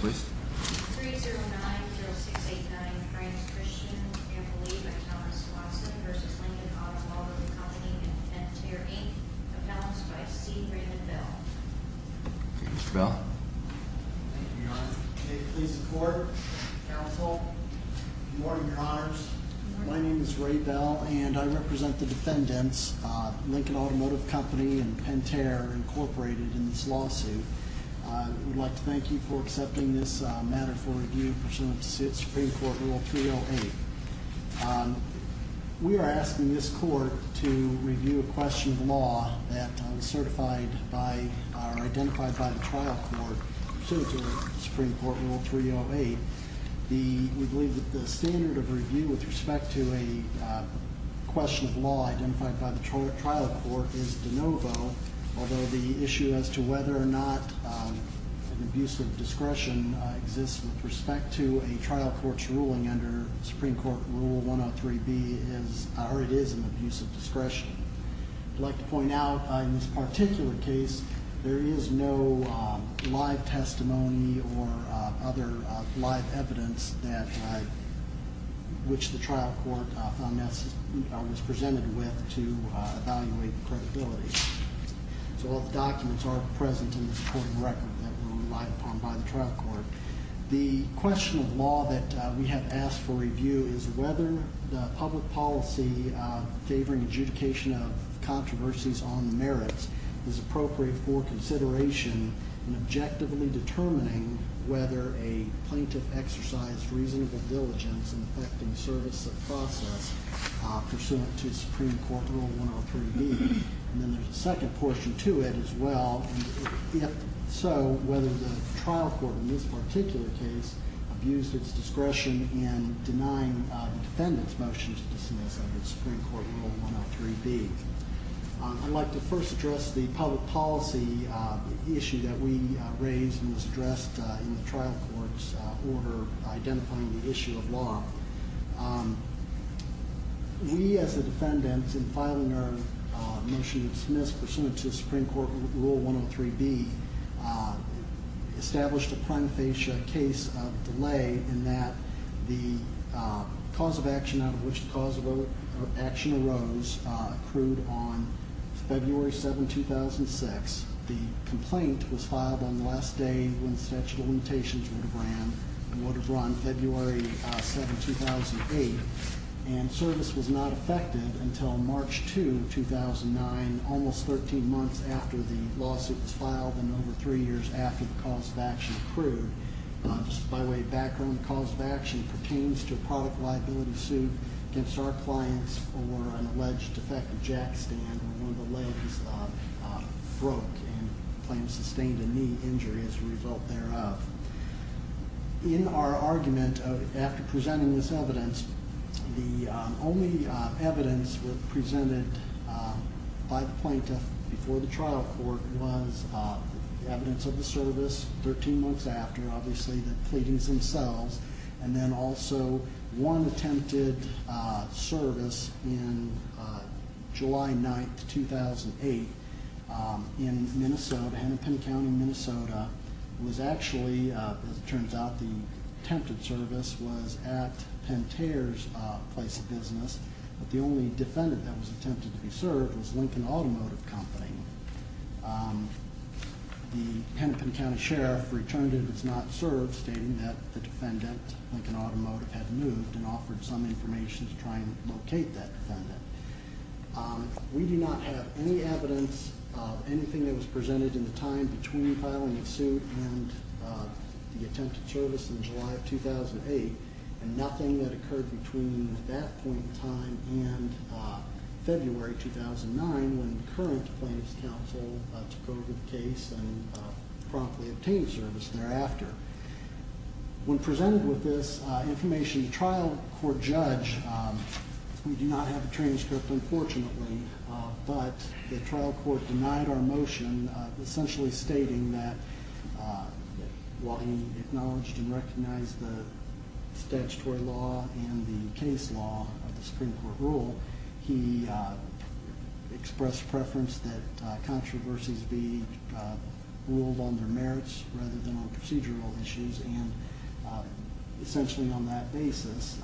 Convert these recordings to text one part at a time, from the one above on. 3090689, Frank Christian, and believed by Thomas Watson v. Lincoln Automotive Company and Pentair, Inc. Announced by C. Raymond Bell. Thank you, Mr. Bell. Thank you, Your Honor. May it please the Court and the Counsel. Good morning, Your Honors. Good morning. My name is Ray Bell, and I represent the defendants, Lincoln Automotive Company and Pentair, Inc., in this lawsuit. I would like to thank you for accepting this matter for review pursuant to Supreme Court Rule 308. We are asking this Court to review a question of law that was certified by or identified by the trial court pursuant to Supreme Court Rule 308. We believe that the standard of review with respect to a question of law identified by the trial court is de novo, although the issue as to whether or not an abuse of discretion exists with respect to a trial court's ruling under Supreme Court Rule 103B is, or it is, an abuse of discretion. I'd like to point out, in this particular case, there is no live testimony or other live evidence that, which the trial court was presented with to evaluate the credibility. So all the documents are present in the supporting record that were relied upon by the trial court. The question of law that we have asked for review is whether the public policy favoring adjudication of controversies on the merits is appropriate for consideration in objectively determining whether a plaintiff exercised reasonable diligence in effecting the service of the process pursuant to Supreme Court Rule 103B. And then there's a second portion to it as well, and if so, whether the trial court in this particular case abused its discretion in denying the defendant's motion to dismiss under Supreme Court Rule 103B. I'd like to first address the public policy issue that we raised and was addressed in the trial court's order identifying the issue of law. We, as the defendants, in filing our motion to dismiss pursuant to Supreme Court Rule 103B, established a prima facie case of delay in that the cause of action out of which the cause of action arose accrued on February 7, 2006. The complaint was filed on the last day when the statute of limitations would have ran, would have run February 7, 2008, and service was not affected until March 2, 2009, almost 13 months after the lawsuit was filed and over three years after the cause of action accrued. Just by way of background, the cause of action pertains to a product liability suit against our clients for an alleged defective jack stand where one of the legs broke and claims sustained a knee injury as a result thereof. In our argument, after presenting this evidence, the only evidence presented by the plaintiff before the trial court was evidence of the service 13 months after, obviously, the pleadings themselves, and then also one attempted service in July 9, 2008, in Minnesota, Hennepin County, Minnesota, was actually, as it turns out, the attempted service was at Pentair's place of business, but the only defendant that was attempted to be served was Lincoln Automotive Company. The Hennepin County Sheriff returned it was not served, stating that the defendant, Lincoln Automotive, had moved and offered some information to try and locate that defendant. We do not have any evidence of anything that was presented in the time between filing the suit and the attempted service in July of 2008, and nothing that occurred between that point in time and February 2009, when the current plaintiff's counsel took over the case and promptly obtained service thereafter. When presented with this information, the trial court judge, we do not have a transcript, unfortunately, but the trial court denied our motion, essentially stating that, while he acknowledged and recognized the statutory law and the case law of the Supreme Court rule, he expressed preference that controversies be ruled under merits rather than on procedural issues, and essentially on that basis,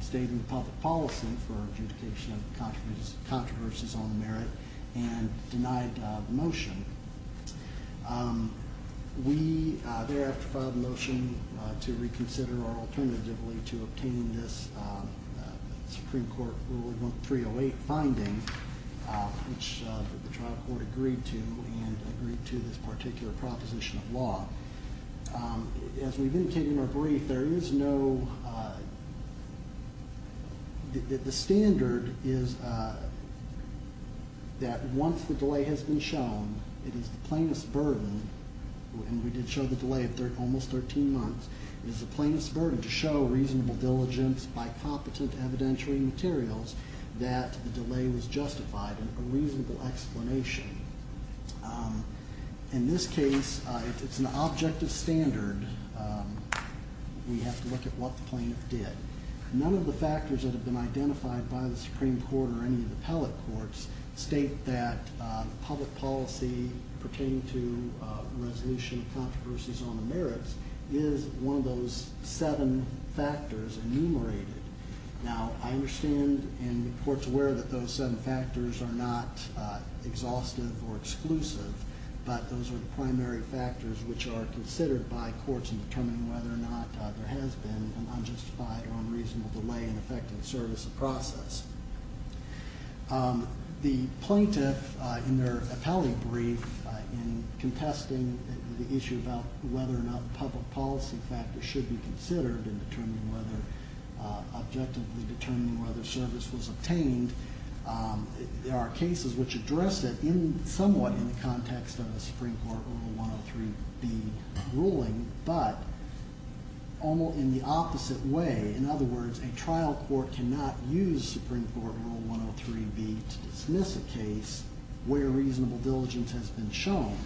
stating public policy for adjudication of controversies on the merit and denied the motion. We thereafter filed a motion to reconsider or alternatively to obtain this Supreme Court Rule 308 finding, which the trial court agreed to and agreed to this particular proposition of law. As we've indicated in our brief, there is no, the standard is that once the delay has been shown, it is the plaintiff's burden, and we did show the delay of almost 13 months, it is the plaintiff's burden to show reasonable diligence by competent evidentiary materials that the delay was justified and a reasonable explanation. In this case, if it's an objective standard, we have to look at what the plaintiff did. None of the factors that have been identified by the Supreme Court or any of the appellate courts state that public policy pertaining to resolution of controversies on the merits is one of those seven factors enumerated. Now, I understand and the court's aware that those seven factors are not exhaustive or exclusive, but those are the primary factors which are considered by courts in determining whether or not there has been an unjustified or unreasonable delay in effective service of process. The plaintiff, in their appellate brief, in contesting the issue about whether or not public policy factors should be considered in objectively determining whether service was obtained, there are cases which address it somewhat in the context of the Supreme Court Rule 103B ruling, but in the opposite way. In other words, a trial court cannot use Supreme Court Rule 103B to dismiss a case where reasonable diligence has been shown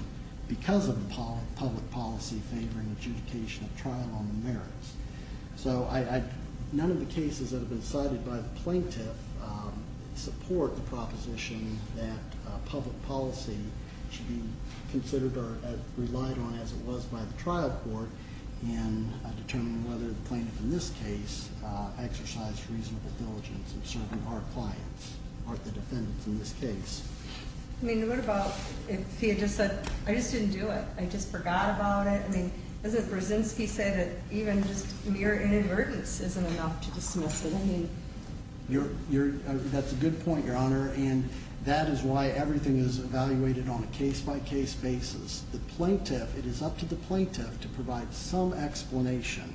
because of the public policy favoring adjudication of trial on the merits. So none of the cases that have been cited by the plaintiff support the proposition that public policy should be considered or relied on as it was by the trial court in determining whether the plaintiff in this case exercised reasonable diligence in serving our clients, or the defendants in this case. I mean, what about if he had just said, I just didn't do it, I just forgot about it. I mean, doesn't Brzezinski say that even just mere inadvertence isn't enough to dismiss it? That's a good point, Your Honor, and that is why everything is evaluated on a case-by-case basis. The plaintiff, it is up to the plaintiff to provide some explanation,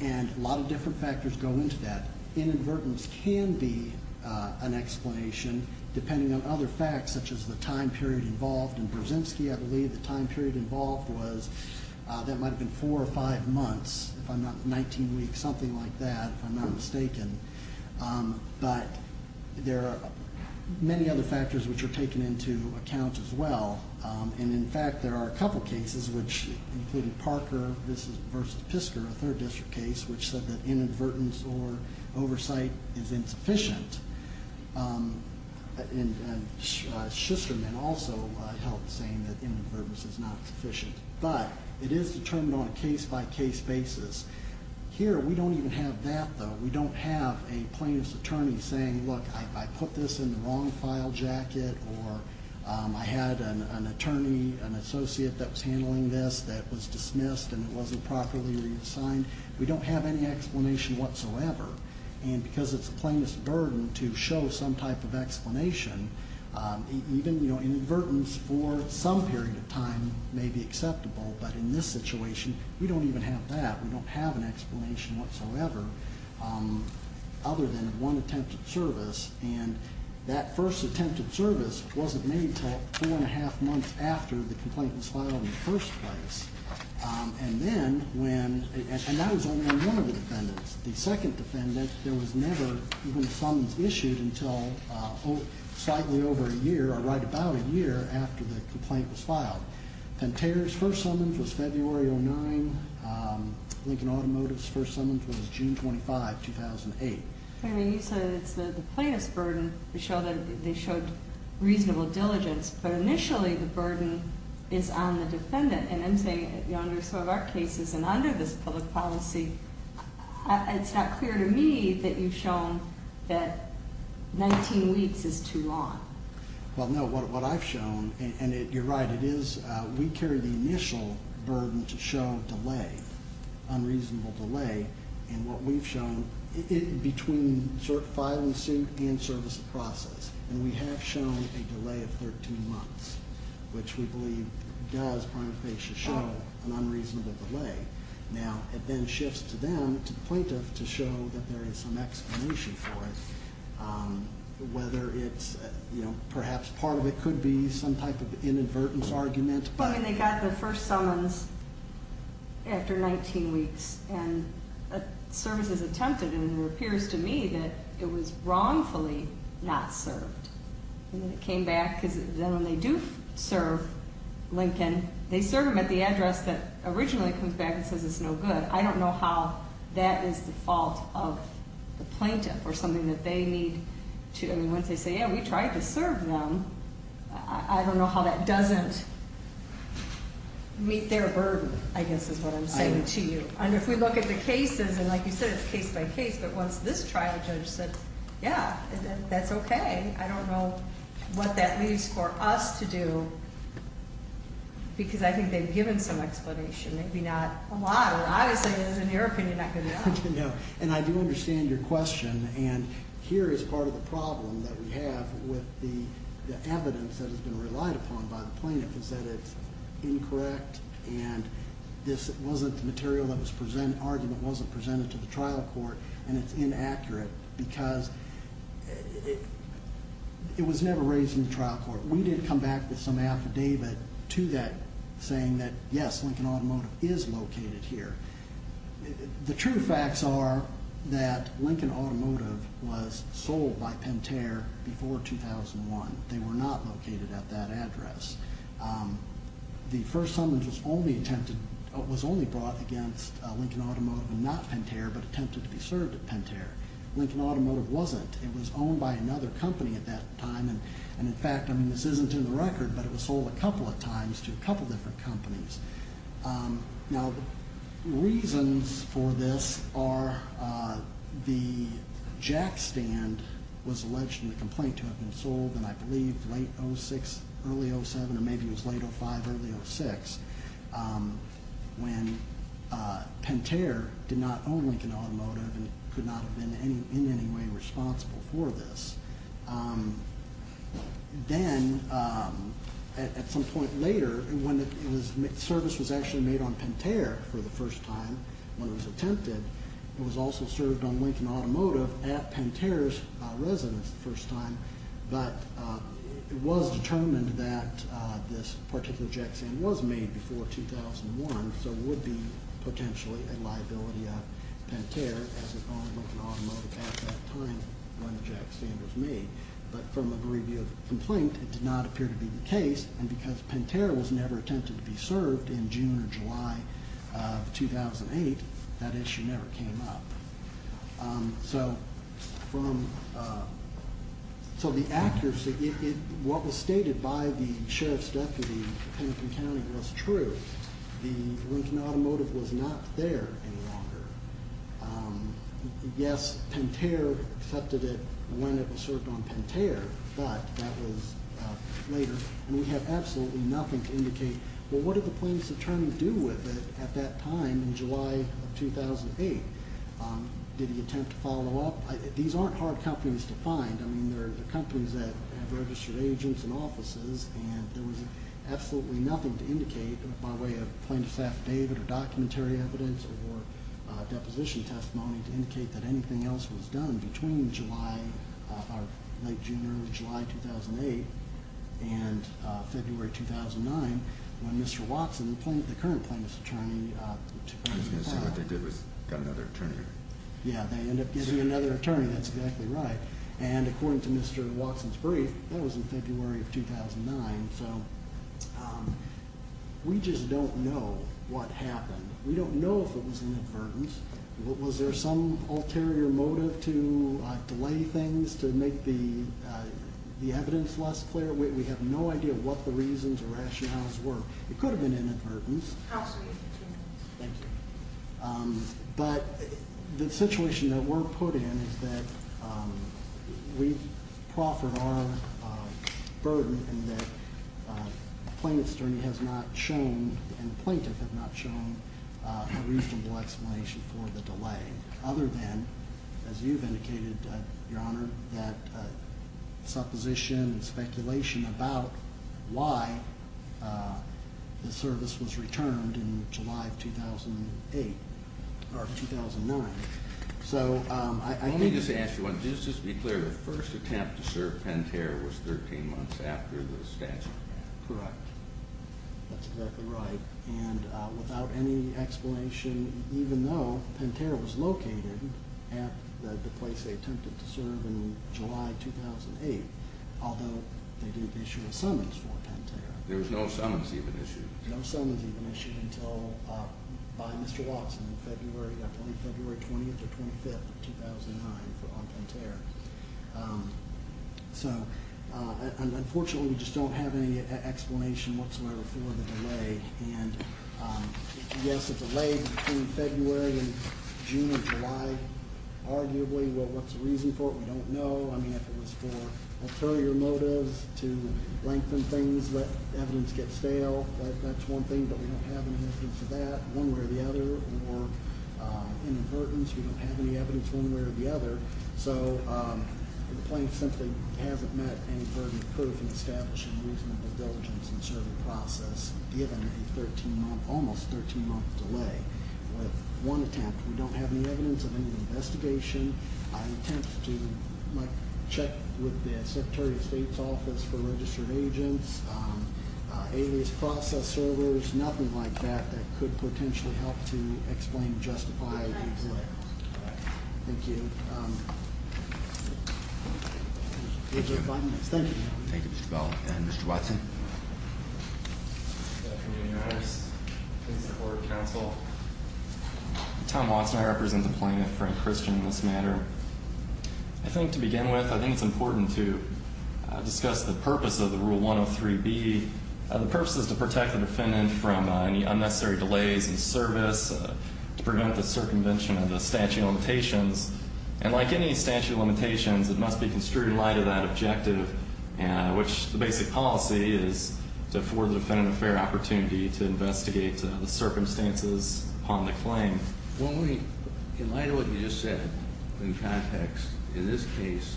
and a lot of different factors go into that. Inadvertence can be an explanation, depending on other facts, such as the time period involved. In Brzezinski, I believe, the time period involved was that might have been four or five months, if I'm not 19 weeks, something like that, if I'm not mistaken. But there are many other factors which are taken into account as well. And, in fact, there are a couple cases, which included Parker v. Pisker, a third district case, which said that inadvertence or oversight is insufficient. And Schusterman also held the same, that inadvertence is not sufficient. But it is determined on a case-by-case basis. Here, we don't even have that, though. We don't have a plaintiff's attorney saying, look, I put this in the wrong file jacket, or I had an attorney, an associate that was handling this that was dismissed, and it wasn't properly redesigned. We don't have any explanation whatsoever. And because it's a plaintiff's burden to show some type of explanation, even inadvertence for some period of time may be acceptable. But in this situation, we don't even have that. We don't have an explanation whatsoever, other than one attempted service. And that first attempted service wasn't made until four and a half months after the complaint was filed in the first place. And then when, and that was only on one of the defendants. The second defendant, there was never even a summons issued until slightly over a year or right about a year after the complaint was filed. Pantera's first summons was February 2009. Lincoln Automotive's first summons was June 25, 2008. I mean, you said it's the plaintiff's burden to show that they showed reasonable diligence. But initially, the burden is on the defendant. And I'm saying under some of our cases and under this public policy, it's not clear to me that you've shown that 19 weeks is too long. Well, no, what I've shown, and you're right, it is. We carry the initial burden to show delay, unreasonable delay. And what we've shown, between filing suit and service of process, and we have shown a delay of 13 months, which we believe does prima facie show an unreasonable delay. Now, it then shifts to them, to the plaintiff, to show that there is some explanation for it. Whether it's, you know, perhaps part of it could be some type of inadvertent argument. Well, I mean, they got their first summons after 19 weeks. And a service is attempted, and it appears to me that it was wrongfully not served. And then it came back, because then when they do serve Lincoln, they serve him at the address that originally comes back and says it's no good. I don't know how that is the fault of the plaintiff or something that they need to, I mean, once they say, yeah, we tried to serve them, I don't know how that doesn't meet their burden, I guess is what I'm saying to you. And if we look at the cases, and like you said, it's case by case, but once this trial judge said, yeah, that's okay. I don't know what that leaves for us to do, because I think they've given some explanation. Maybe not a lot, and obviously, as an American, you're not going to know. And I do understand your question. And here is part of the problem that we have with the evidence that has been relied upon by the plaintiff, is that it's incorrect, and this wasn't the material that was presented, the argument wasn't presented to the trial court, and it's inaccurate, because it was never raised in the trial court. We did come back with some affidavit to that saying that, yes, Lincoln Automotive is located here. The true facts are that Lincoln Automotive was sold by Pentair before 2001. They were not located at that address. The first summons was only brought against Lincoln Automotive and not Pentair, but attempted to be served at Pentair. Lincoln Automotive wasn't. It was owned by another company at that time, and in fact, I mean, this isn't in the record, but it was sold a couple of times to a couple of different companies. Now, reasons for this are the jack stand was alleged in the complaint to have been sold, and I believe late 06, early 07, or maybe it was late 05, early 06, when Pentair did not own Lincoln Automotive and could not have been in any way responsible for this. Then, at some point later, when the service was actually made on Pentair for the first time, when it was attempted, it was also served on Lincoln Automotive at Pentair's residence the first time, but it was determined that this particular jack stand was made before 2001, so it would be potentially a liability of Pentair as it owned Lincoln Automotive at that time when the jack stand was made. But from a review of the complaint, it did not appear to be the case, and because Pentair was never attempted to be served in June or July of 2008, that issue never came up. So the accuracy, what was stated by the sheriff's deputy in Lincoln County was true. The Lincoln Automotive was not there any longer. Yes, Pentair accepted it when it was served on Pentair, but that was later, and we have absolutely nothing to indicate, well, what did the plaintiff's attorney do with it at that time in July of 2008? Did he attempt to follow up? These aren't hard companies to find. I mean, they're companies that have registered agents and offices, and there was absolutely nothing to indicate by way of Plaintiff's affidavit or documentary evidence or deposition testimony to indicate that anything else was done between late June or early July of 2008 and February 2009 when Mr. Watson, the current plaintiff's attorney, took the file. I was going to say what they did was got another attorney. Yes, they ended up getting another attorney. That's exactly right. And according to Mr. Watson's brief, that was in February of 2009, so we just don't know what happened. We don't know if it was inadvertence. Was there some ulterior motive to delay things to make the evidence less clear? We have no idea what the reasons or rationales were. It could have been inadvertence. Absolutely. Thank you. But the situation that we're put in is that we've proffered our burden and that the plaintiff's attorney has not shown a reasonable explanation for the delay other than, as you've indicated, Your Honor, that supposition and speculation about why the service was returned in July of 2008 or 2009. Let me just ask you one thing. Just to be clear, the first attempt to serve Pentair was 13 months after the statute. Correct. That's exactly right. And without any explanation, even though Pentair was located at the place they attempted to serve in July 2008, although they did issue a summons for Pentair. There was no summons even issued. No summons even issued until by Mr. Watson on February 20th or 25th of 2009 for Pentair. So, unfortunately, we just don't have any explanation whatsoever for the delay. And, yes, it's a delay between February and June and July, arguably. What's the reason for it? We don't know. I mean, if it was for ulterior motives to lengthen things, let evidence get stale, that's one thing. But we don't have any evidence of that one way or the other. Or inadvertence, we don't have any evidence one way or the other. So the plaintiff simply hasn't met any burden of proof in establishing reasonable diligence in the serving process, given a 13-month, almost 13-month delay. With one attempt, we don't have any evidence of any investigation. An attempt to check with the Secretary of State's office for registered agents, alias process servers, nothing like that that could potentially help to explain, justify the delay. Thank you. Thank you. Thank you, Mr. Bell. And Mr. Watson. Good afternoon, Your Honors. Please support counsel. I'm Tom Watson. I represent the plaintiff, Frank Christian, in this matter. I think to begin with, I think it's important to discuss the purpose of the Rule 103B. The purpose is to protect the defendant from any unnecessary delays in service, to prevent the circumvention of the statute of limitations. And like any statute of limitations, it must be construed in light of that objective, which the basic policy is to afford the defendant a fair opportunity to investigate the circumstances upon the claim. Well, in light of what you just said, in context, in this case,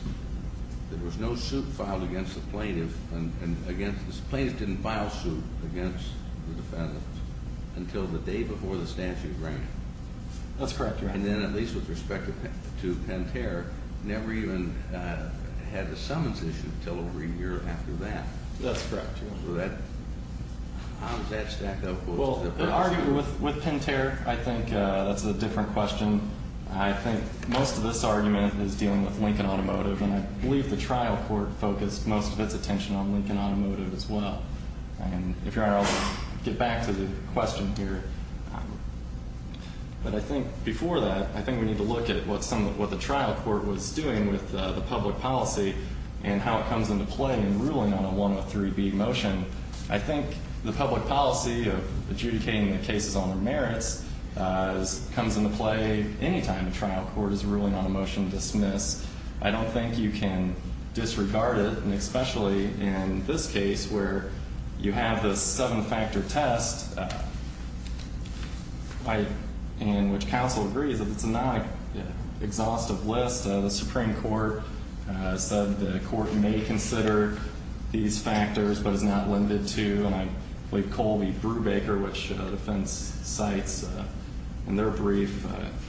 there was no suit filed against the plaintiff, and the plaintiff didn't file a suit against the defendant until the day before the statute ran. That's correct, Your Honor. And then at least with respect to Pinter, never even had the summons issued until over a year after that. That's correct, Your Honor. So how does that stack up? Well, the argument with Pinter, I think that's a different question. I think most of this argument is dealing with Lincoln Automotive, and I believe the trial court focused most of its attention on Lincoln Automotive as well. And if Your Honor, I'll get back to the question here. But I think before that, I think we need to look at what the trial court was doing with the public policy and how it comes into play in ruling on a 103B motion. I think the public policy of adjudicating the cases on their merits comes into play any time a trial court is ruling on a motion to dismiss. I don't think you can disregard it, and especially in this case where you have this seven-factor test in which counsel agrees that it's a non-exhaustive list. The Supreme Court said the court may consider these factors but is not limited to. And I believe Colby Brubaker, which the defense cites in their brief,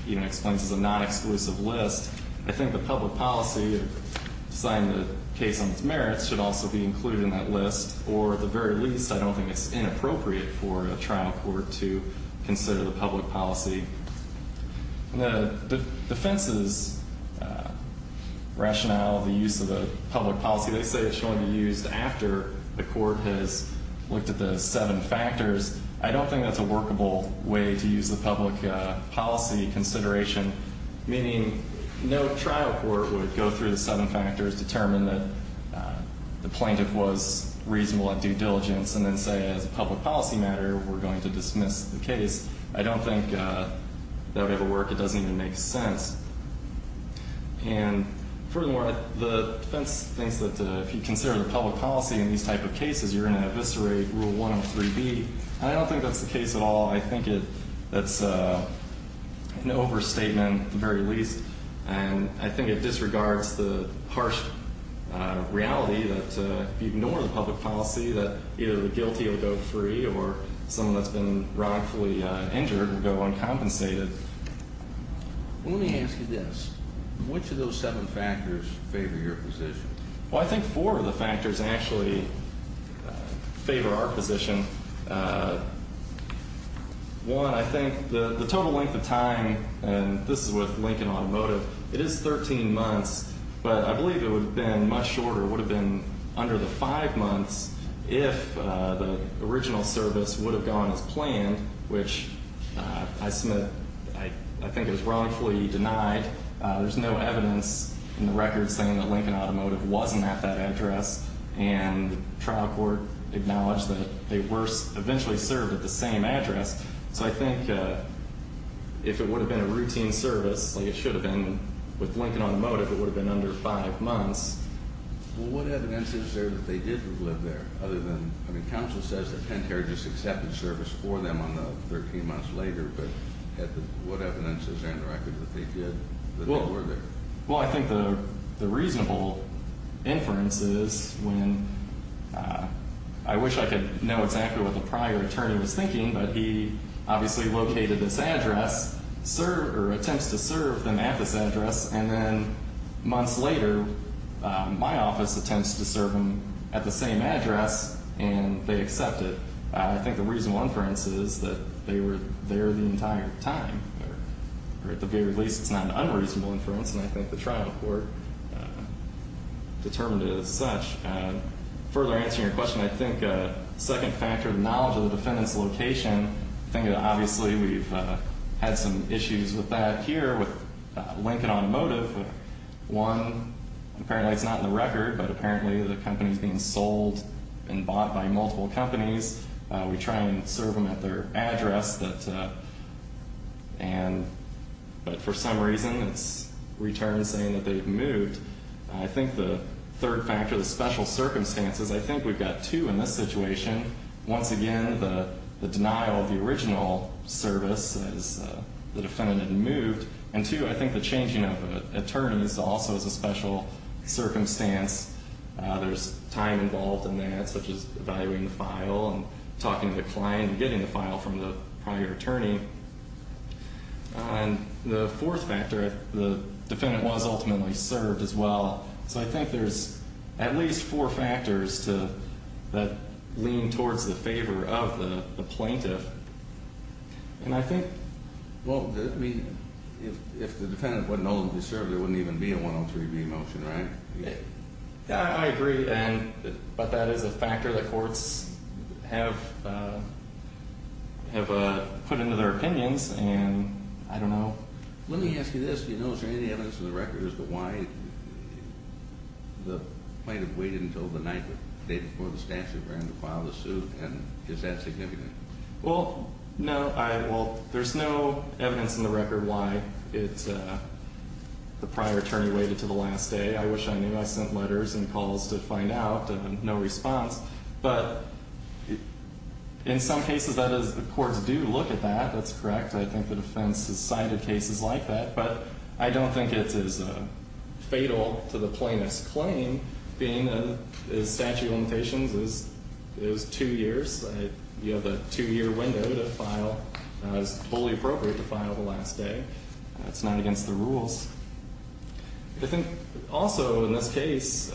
even explains it's a non-exclusive list. I think the public policy of deciding the case on its merits should also be included in that list, or at the very least, I don't think it's inappropriate for a trial court to consider the public policy. The defense's rationale, the use of the public policy, they say it should only be used after the court has looked at the seven factors. I don't think that's a workable way to use the public policy consideration, meaning no trial court would go through the seven factors, determine that the plaintiff was reasonable at due diligence, and then say, as a public policy matter, we're going to dismiss the case. I don't think that would ever work. It doesn't even make sense. And furthermore, the defense thinks that if you consider the public policy in these type of cases, you're going to eviscerate Rule 103B. I don't think that's the case at all. I think that's an overstatement at the very least, and I think it disregards the harsh reality that if you ignore the public policy, that either the guilty will go free or someone that's been wrongfully injured will go uncompensated. Let me ask you this. Which of those seven factors favor your position? Well, I think four of the factors actually favor our position. One, I think the total length of time, and this is with Lincoln Automotive, it is 13 months, but I believe it would have been much shorter, would have been under the five months, if the original service would have gone as planned, which I think is wrongfully denied. There's no evidence in the record saying that Lincoln Automotive wasn't at that address, and the trial court acknowledged that they were eventually served at the same address. So I think if it would have been a routine service, like it should have been with Lincoln Automotive, it would have been under five months. Well, what evidence is there that they did live there other than, I mean, service for them on the 13 months later, but what evidence is there in the record that they did, that they were there? Well, I think the reasonable inference is when I wish I could know exactly what the prior attorney was thinking, but he obviously located this address, served or attempts to serve them at this address, and then months later, my office attempts to serve them at the same address, and they accept it. I think the reasonable inference is that they were there the entire time, or at the very least, it's not an unreasonable inference, and I think the trial court determined it as such. Further answering your question, I think a second factor, the knowledge of the defendant's location, I think that obviously we've had some issues with that here with Lincoln Automotive. One, apparently it's not in the record, but apparently the company's being sold and bought by multiple companies. We try and serve them at their address, but for some reason, it's returned saying that they've moved. I think the third factor, the special circumstances, I think we've got two in this situation. Once again, the denial of the original service as the defendant had moved. And two, I think the changing of attorneys also is a special circumstance. There's time involved in that, such as evaluating the file and talking to the client and getting the file from the prior attorney. And the fourth factor, the defendant was ultimately served as well. So I think there's at least four factors that lean towards the favor of the plaintiff. And I think, well, if the defendant wasn't ultimately served, there wouldn't even be a 103B motion, right? Yeah, I agree, but that is a factor that courts have put into their opinions, and I don't know. Let me ask you this. Do you know, is there any evidence in the record as to why the plaintiff waited until the night, the day before the statute ran to file the suit? And is that significant? Well, no. Well, there's no evidence in the record why the prior attorney waited to the last day. I wish I knew. I sent letters and calls to find out, and no response. But in some cases, that is, the courts do look at that. That's correct. I think the defense has cited cases like that. But I don't think it's as fatal to the plaintiff's claim being that the statute of limitations is two years. You have a two-year window to file. It's fully appropriate to file the last day. It's not against the rules. I think also in this case,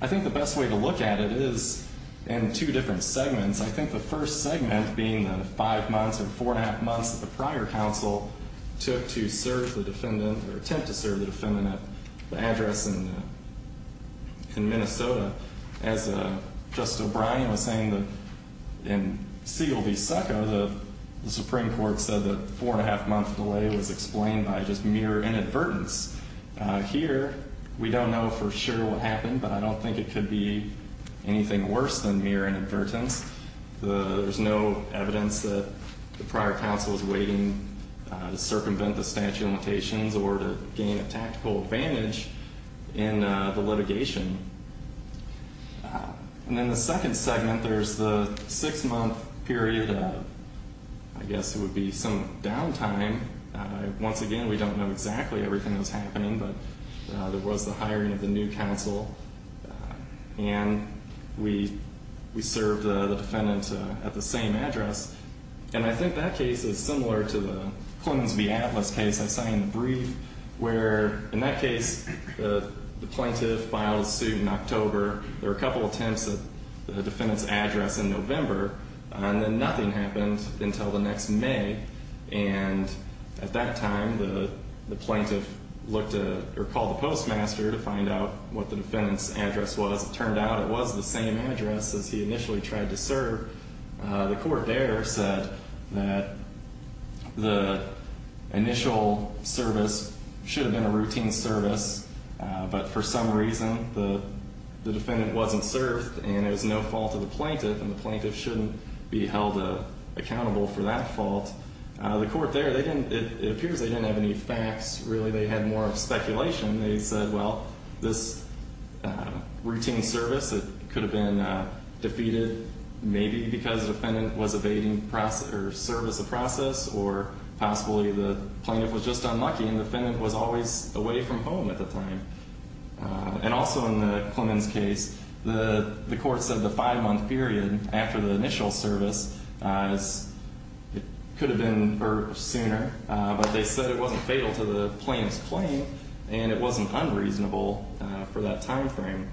I think the best way to look at it is in two different segments. I think the first segment being the five months or four-and-a-half months that the prior counsel took to serve the defendant or attempt to serve the defendant at the address in Minnesota. As Justice O'Brien was saying in Siegel v. Succo, the Supreme Court said the four-and-a-half-month delay was explained by just mere inadvertence. Here, we don't know for sure what happened, but I don't think it could be anything worse than mere inadvertence. There's no evidence that the prior counsel was waiting to circumvent the statute of limitations or to gain a tactical advantage in the litigation. And in the second segment, there's the six-month period of, I guess it would be, some downtime. Once again, we don't know exactly everything that was happening, but there was the hiring of the new counsel, and we served the defendant at the same address. And I think that case is similar to the Clemens v. Atlas case I cited in the brief, where in that case, the plaintiff filed a suit in October. There were a couple attempts at the defendant's address in November, and then nothing happened until the next May. And at that time, the plaintiff looked at or called the postmaster to find out what the defendant's address was. It turned out it was the same address as he initially tried to serve. The court there said that the initial service should have been a routine service, but for some reason, the defendant wasn't served, and it was no fault of the plaintiff, and the plaintiff shouldn't be held accountable for that fault. The court there, it appears they didn't have any facts. Really, they had more of speculation. They said, well, this routine service, it could have been defeated maybe because the defendant was evading service of process or possibly the plaintiff was just unlucky and the defendant was always away from home at the time. And also in the Clemens case, the court said the five-month period after the initial service, it could have been sooner, but they said it wasn't fatal to the plaintiff's claim, and it wasn't unreasonable for that time frame.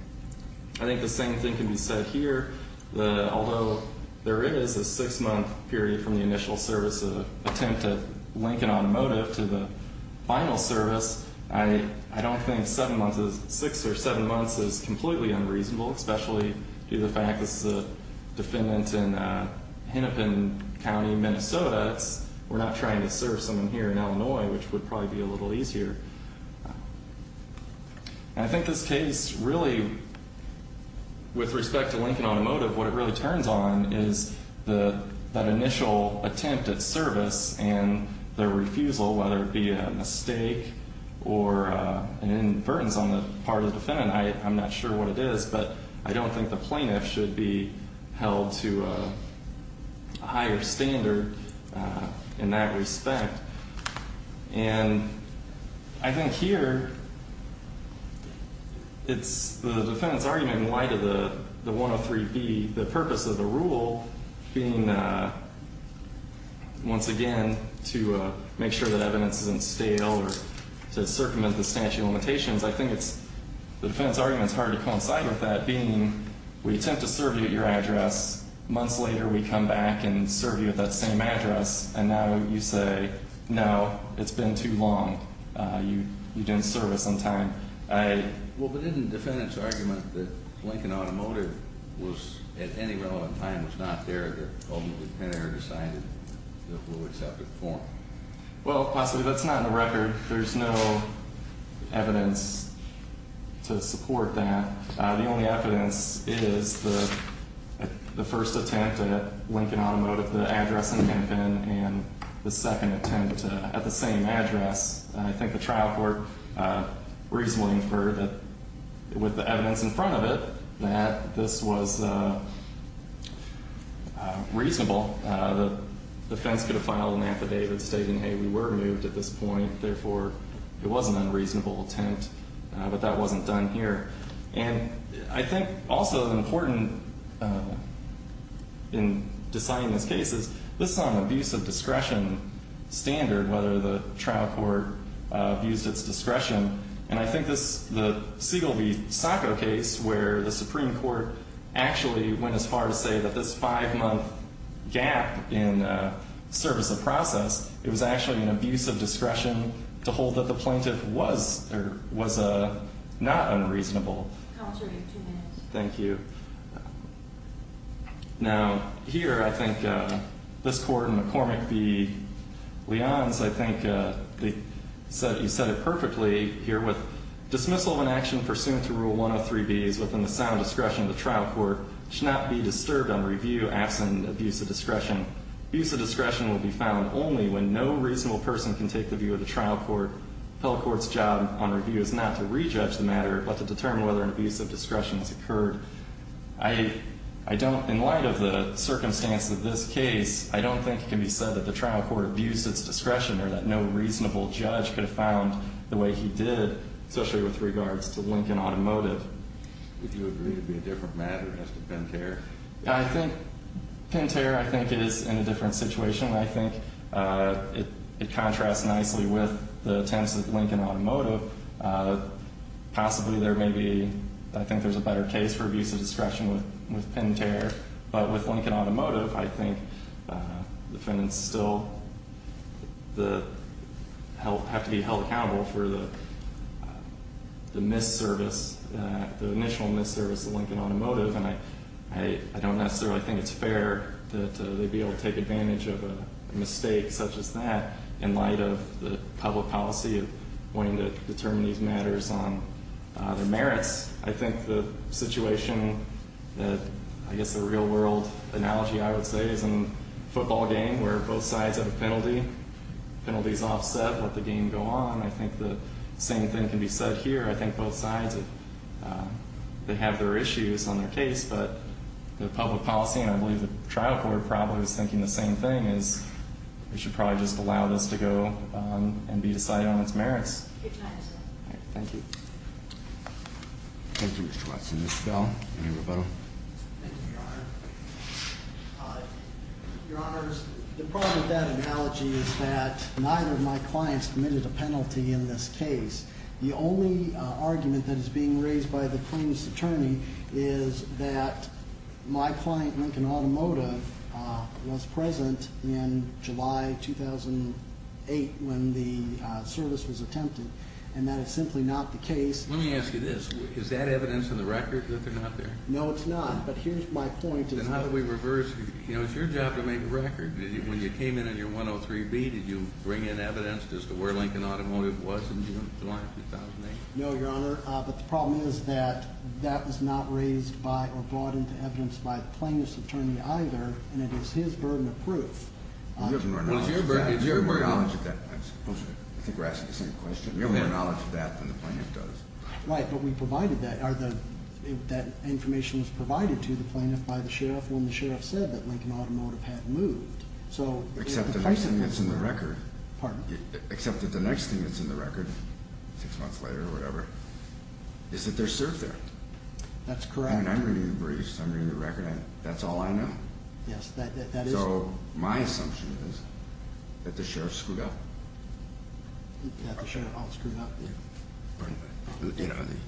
I think the same thing can be said here. Although there is a six-month period from the initial service attempt to link an automotive to the final service, I don't think six or seven months is completely unreasonable, especially due to the fact this is a defendant in Hennepin County, Minnesota. We're not trying to serve someone here in Illinois, which would probably be a little easier. And I think this case really, with respect to linking automotive, what it really turns on is that initial attempt at service and the refusal, whether it be a mistake or an inference on the part of the defendant. I'm not sure what it is, but I don't think the plaintiff should be held to a higher standard in that respect. And I think here it's the defendant's argument in light of the 103B, the purpose of the rule being, once again, to make sure that evidence isn't stale or to circumvent the statute of limitations. I think the defendant's argument is hard to coincide with that, being we attempt to serve you at your address. Months later, we come back and serve you at that same address. And now you say, no, it's been too long. You didn't serve us on time. Well, but isn't the defendant's argument that linking automotive at any relevant time was not there, that ultimately Penner decided that we'll accept it for him? Well, possibly that's not in the record. There's no evidence to support that. The only evidence is the first attempt at linking automotive to the address in Hampton and the second attempt at the same address. I think the trial court reasonably inferred that with the evidence in front of it, that this was reasonable. The defense could have filed an affidavit stating, hey, we were moved at this point, therefore it was an unreasonable attempt, but that wasn't done here. And I think also important in deciding this case is this is on an abuse of discretion standard, whether the trial court abused its discretion. And I think the Siegel v. Sacco case, where the Supreme Court actually went as far to say that this five-month gap in service of process, it was actually an abuse of discretion to hold that the plaintiff was not unreasonable. Counsel, you have two minutes. Thank you. Now, here I think this court in McCormick v. Leons, I think you said it perfectly here, with dismissal of an action pursuant to Rule 103B is within the sound discretion of the trial court, should not be disturbed on review absent abuse of discretion. Abuse of discretion will be found only when no reasonable person can take the view of the trial court. The appeal court's job on review is not to re-judge the matter, but to determine whether an abuse of discretion has occurred. I don't, in light of the circumstance of this case, I don't think it can be said that the trial court abused its discretion or that no reasonable judge could have found the way he did, especially with regards to Lincoln Automotive. Would you agree it would be a different matter as to Pintere? I think Pintere, I think it is in a different situation. I think it contrasts nicely with the attempts at Lincoln Automotive. Possibly there may be, I think there's a better case for abuse of discretion with Pintere. But with Lincoln Automotive, I think defendants still have to be held accountable for the mis-service, the initial mis-service of Lincoln Automotive. And I don't necessarily think it's fair that they be able to take advantage of a mistake such as that in light of the public policy of wanting to determine these matters on their merits. I think the situation, I guess the real world analogy I would say, is in a football game where both sides have a penalty. Penalties offset, let the game go on. I think the same thing can be said here. I think both sides, they have their issues on their case. But the public policy, and I believe the trial court probably was thinking the same thing, is we should probably just allow this to go and be decided on its merits. Thank you. Thank you, Mr. Watson. Mr. Bell, any rebuttal? Thank you, Your Honor. Your Honors, the problem with that analogy is that neither of my clients committed a penalty in this case. The only argument that is being raised by the plaintiff's attorney is that my client, Lincoln Automotive, was present in July 2008 when the service was attempted, and that is simply not the case. Let me ask you this. Is that evidence in the record that they're not there? No, it's not. But here's my point. Then how do we reverse? You know, it's your job to make a record. When you came in on your 103B, did you bring in evidence as to where Lincoln Automotive was in July 2008? No, Your Honor. But the problem is that that was not raised by or brought into evidence by the plaintiff's attorney either, and it is his burden of proof. You have more knowledge of that. I think we're asking the same question. You have more knowledge of that than the plaintiff does. Right, but we provided that. That information was provided to the plaintiff by the sheriff when the sheriff said that Lincoln Automotive had moved. Except that the next thing that's in the record, six months later or whatever, is that they're served there. That's correct. I mean, I'm reading the briefs. I'm reading the record. That's all I know. Yes, that is correct. So my assumption is that the sheriff screwed up. That the sheriff all screwed up, yeah.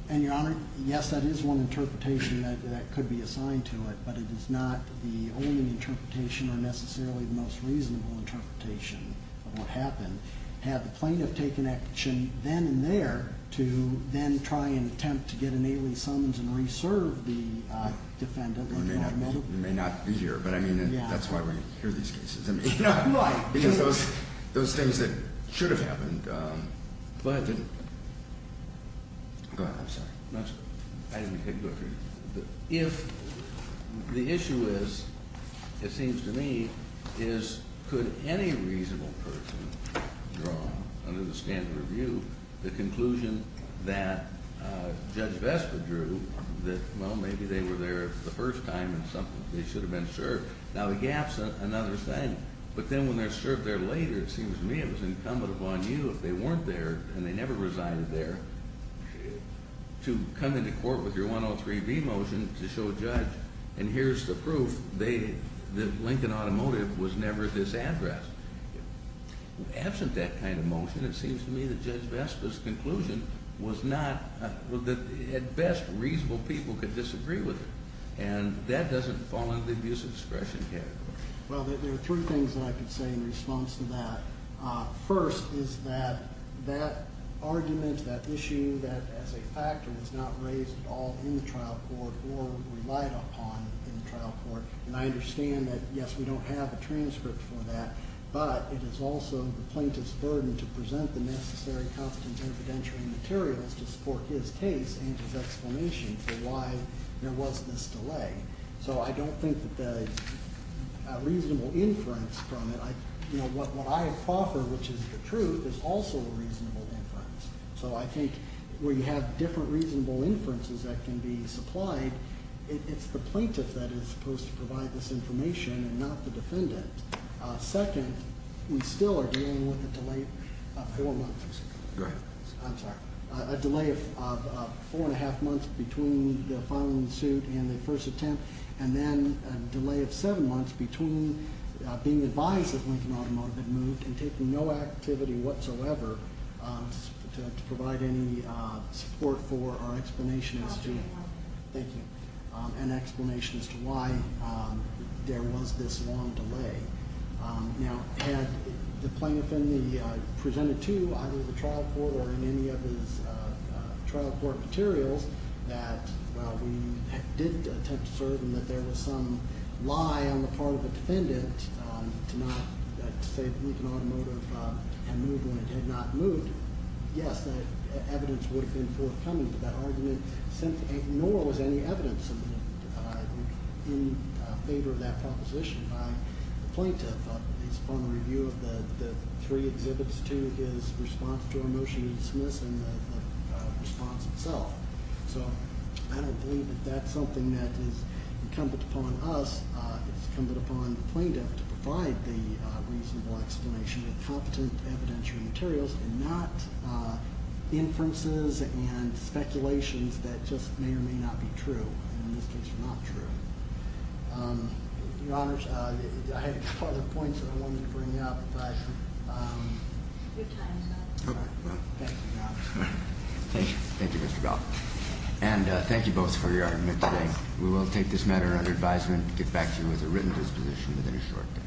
And, Your Honor, yes, that is one interpretation that could be assigned to it, but it is not the only interpretation or necessarily the most reasonable interpretation of what happened. Had the plaintiff taken action then and there to then try and attempt to get an alien summons and reserve the defendant? It may not be here, but I mean, that's why we hear these cases. Because those things that should have happened. Go ahead. I'm sorry. If the issue is, it seems to me, is could any reasonable person draw under the standard of view the conclusion that Judge Vespa drew that, well, maybe they were there the first time and they should have been served. Now, the gap's another thing, but then when they're served there later, it seems to me it was incumbent upon you, if they weren't there and they never resided there, to come into court with your 103B motion to show a judge, and here's the proof, that Lincoln Automotive was never at this address. Absent that kind of motion, it seems to me that Judge Vespa's conclusion was not, at best, reasonable people could disagree with it. And that doesn't fall under the abuse of discretion category. Well, there are three things that I can say in response to that. First is that that argument, that issue, that as a factor was not raised at all in the trial court or relied upon in the trial court. And I understand that, yes, we don't have a transcript for that, but it is also the plaintiff's burden to present the necessary constant evidentiary materials to support his case and his explanation for why there was this delay. So I don't think that the reasonable inference from it, what I have to offer, which is the truth, is also a reasonable inference. So I think where you have different reasonable inferences that can be supplied, it's the plaintiff that is supposed to provide this information and not the defendant. Second, we still are dealing with a delay of four months. Go ahead. I'm sorry. A delay of four and a half months between the filing of the suit and the first attempt, and then a delay of seven months between being advised that Lincoln Automotive had moved and taking no activity whatsoever to provide any support for our explanation as to- I'll take that one. Now had the plaintiff presented to either the trial court or in any of his trial court materials that while we did attempt to assert him that there was some lie on the part of the defendant to say that Lincoln Automotive had moved when it had not moved, yes, that evidence would have been forthcoming, but that argument ignores any evidence in favor of that proposition. The plaintiff is upon review of the three exhibits to his response to our motion to dismiss and the response itself. So I don't believe that that's something that is incumbent upon us. It's incumbent upon the plaintiff to provide the reasonable explanation and competent evidentiary materials and not inferences and speculations that just may or may not be true, and in this case were not true. Your Honors, I had a couple of other points that I wanted to bring up. Thank you. Thank you, Mr. Bell. And thank you both for your argument today. We will take this matter under advisement, get back to you with a written disposition within a short time.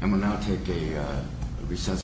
And we'll now take a recess.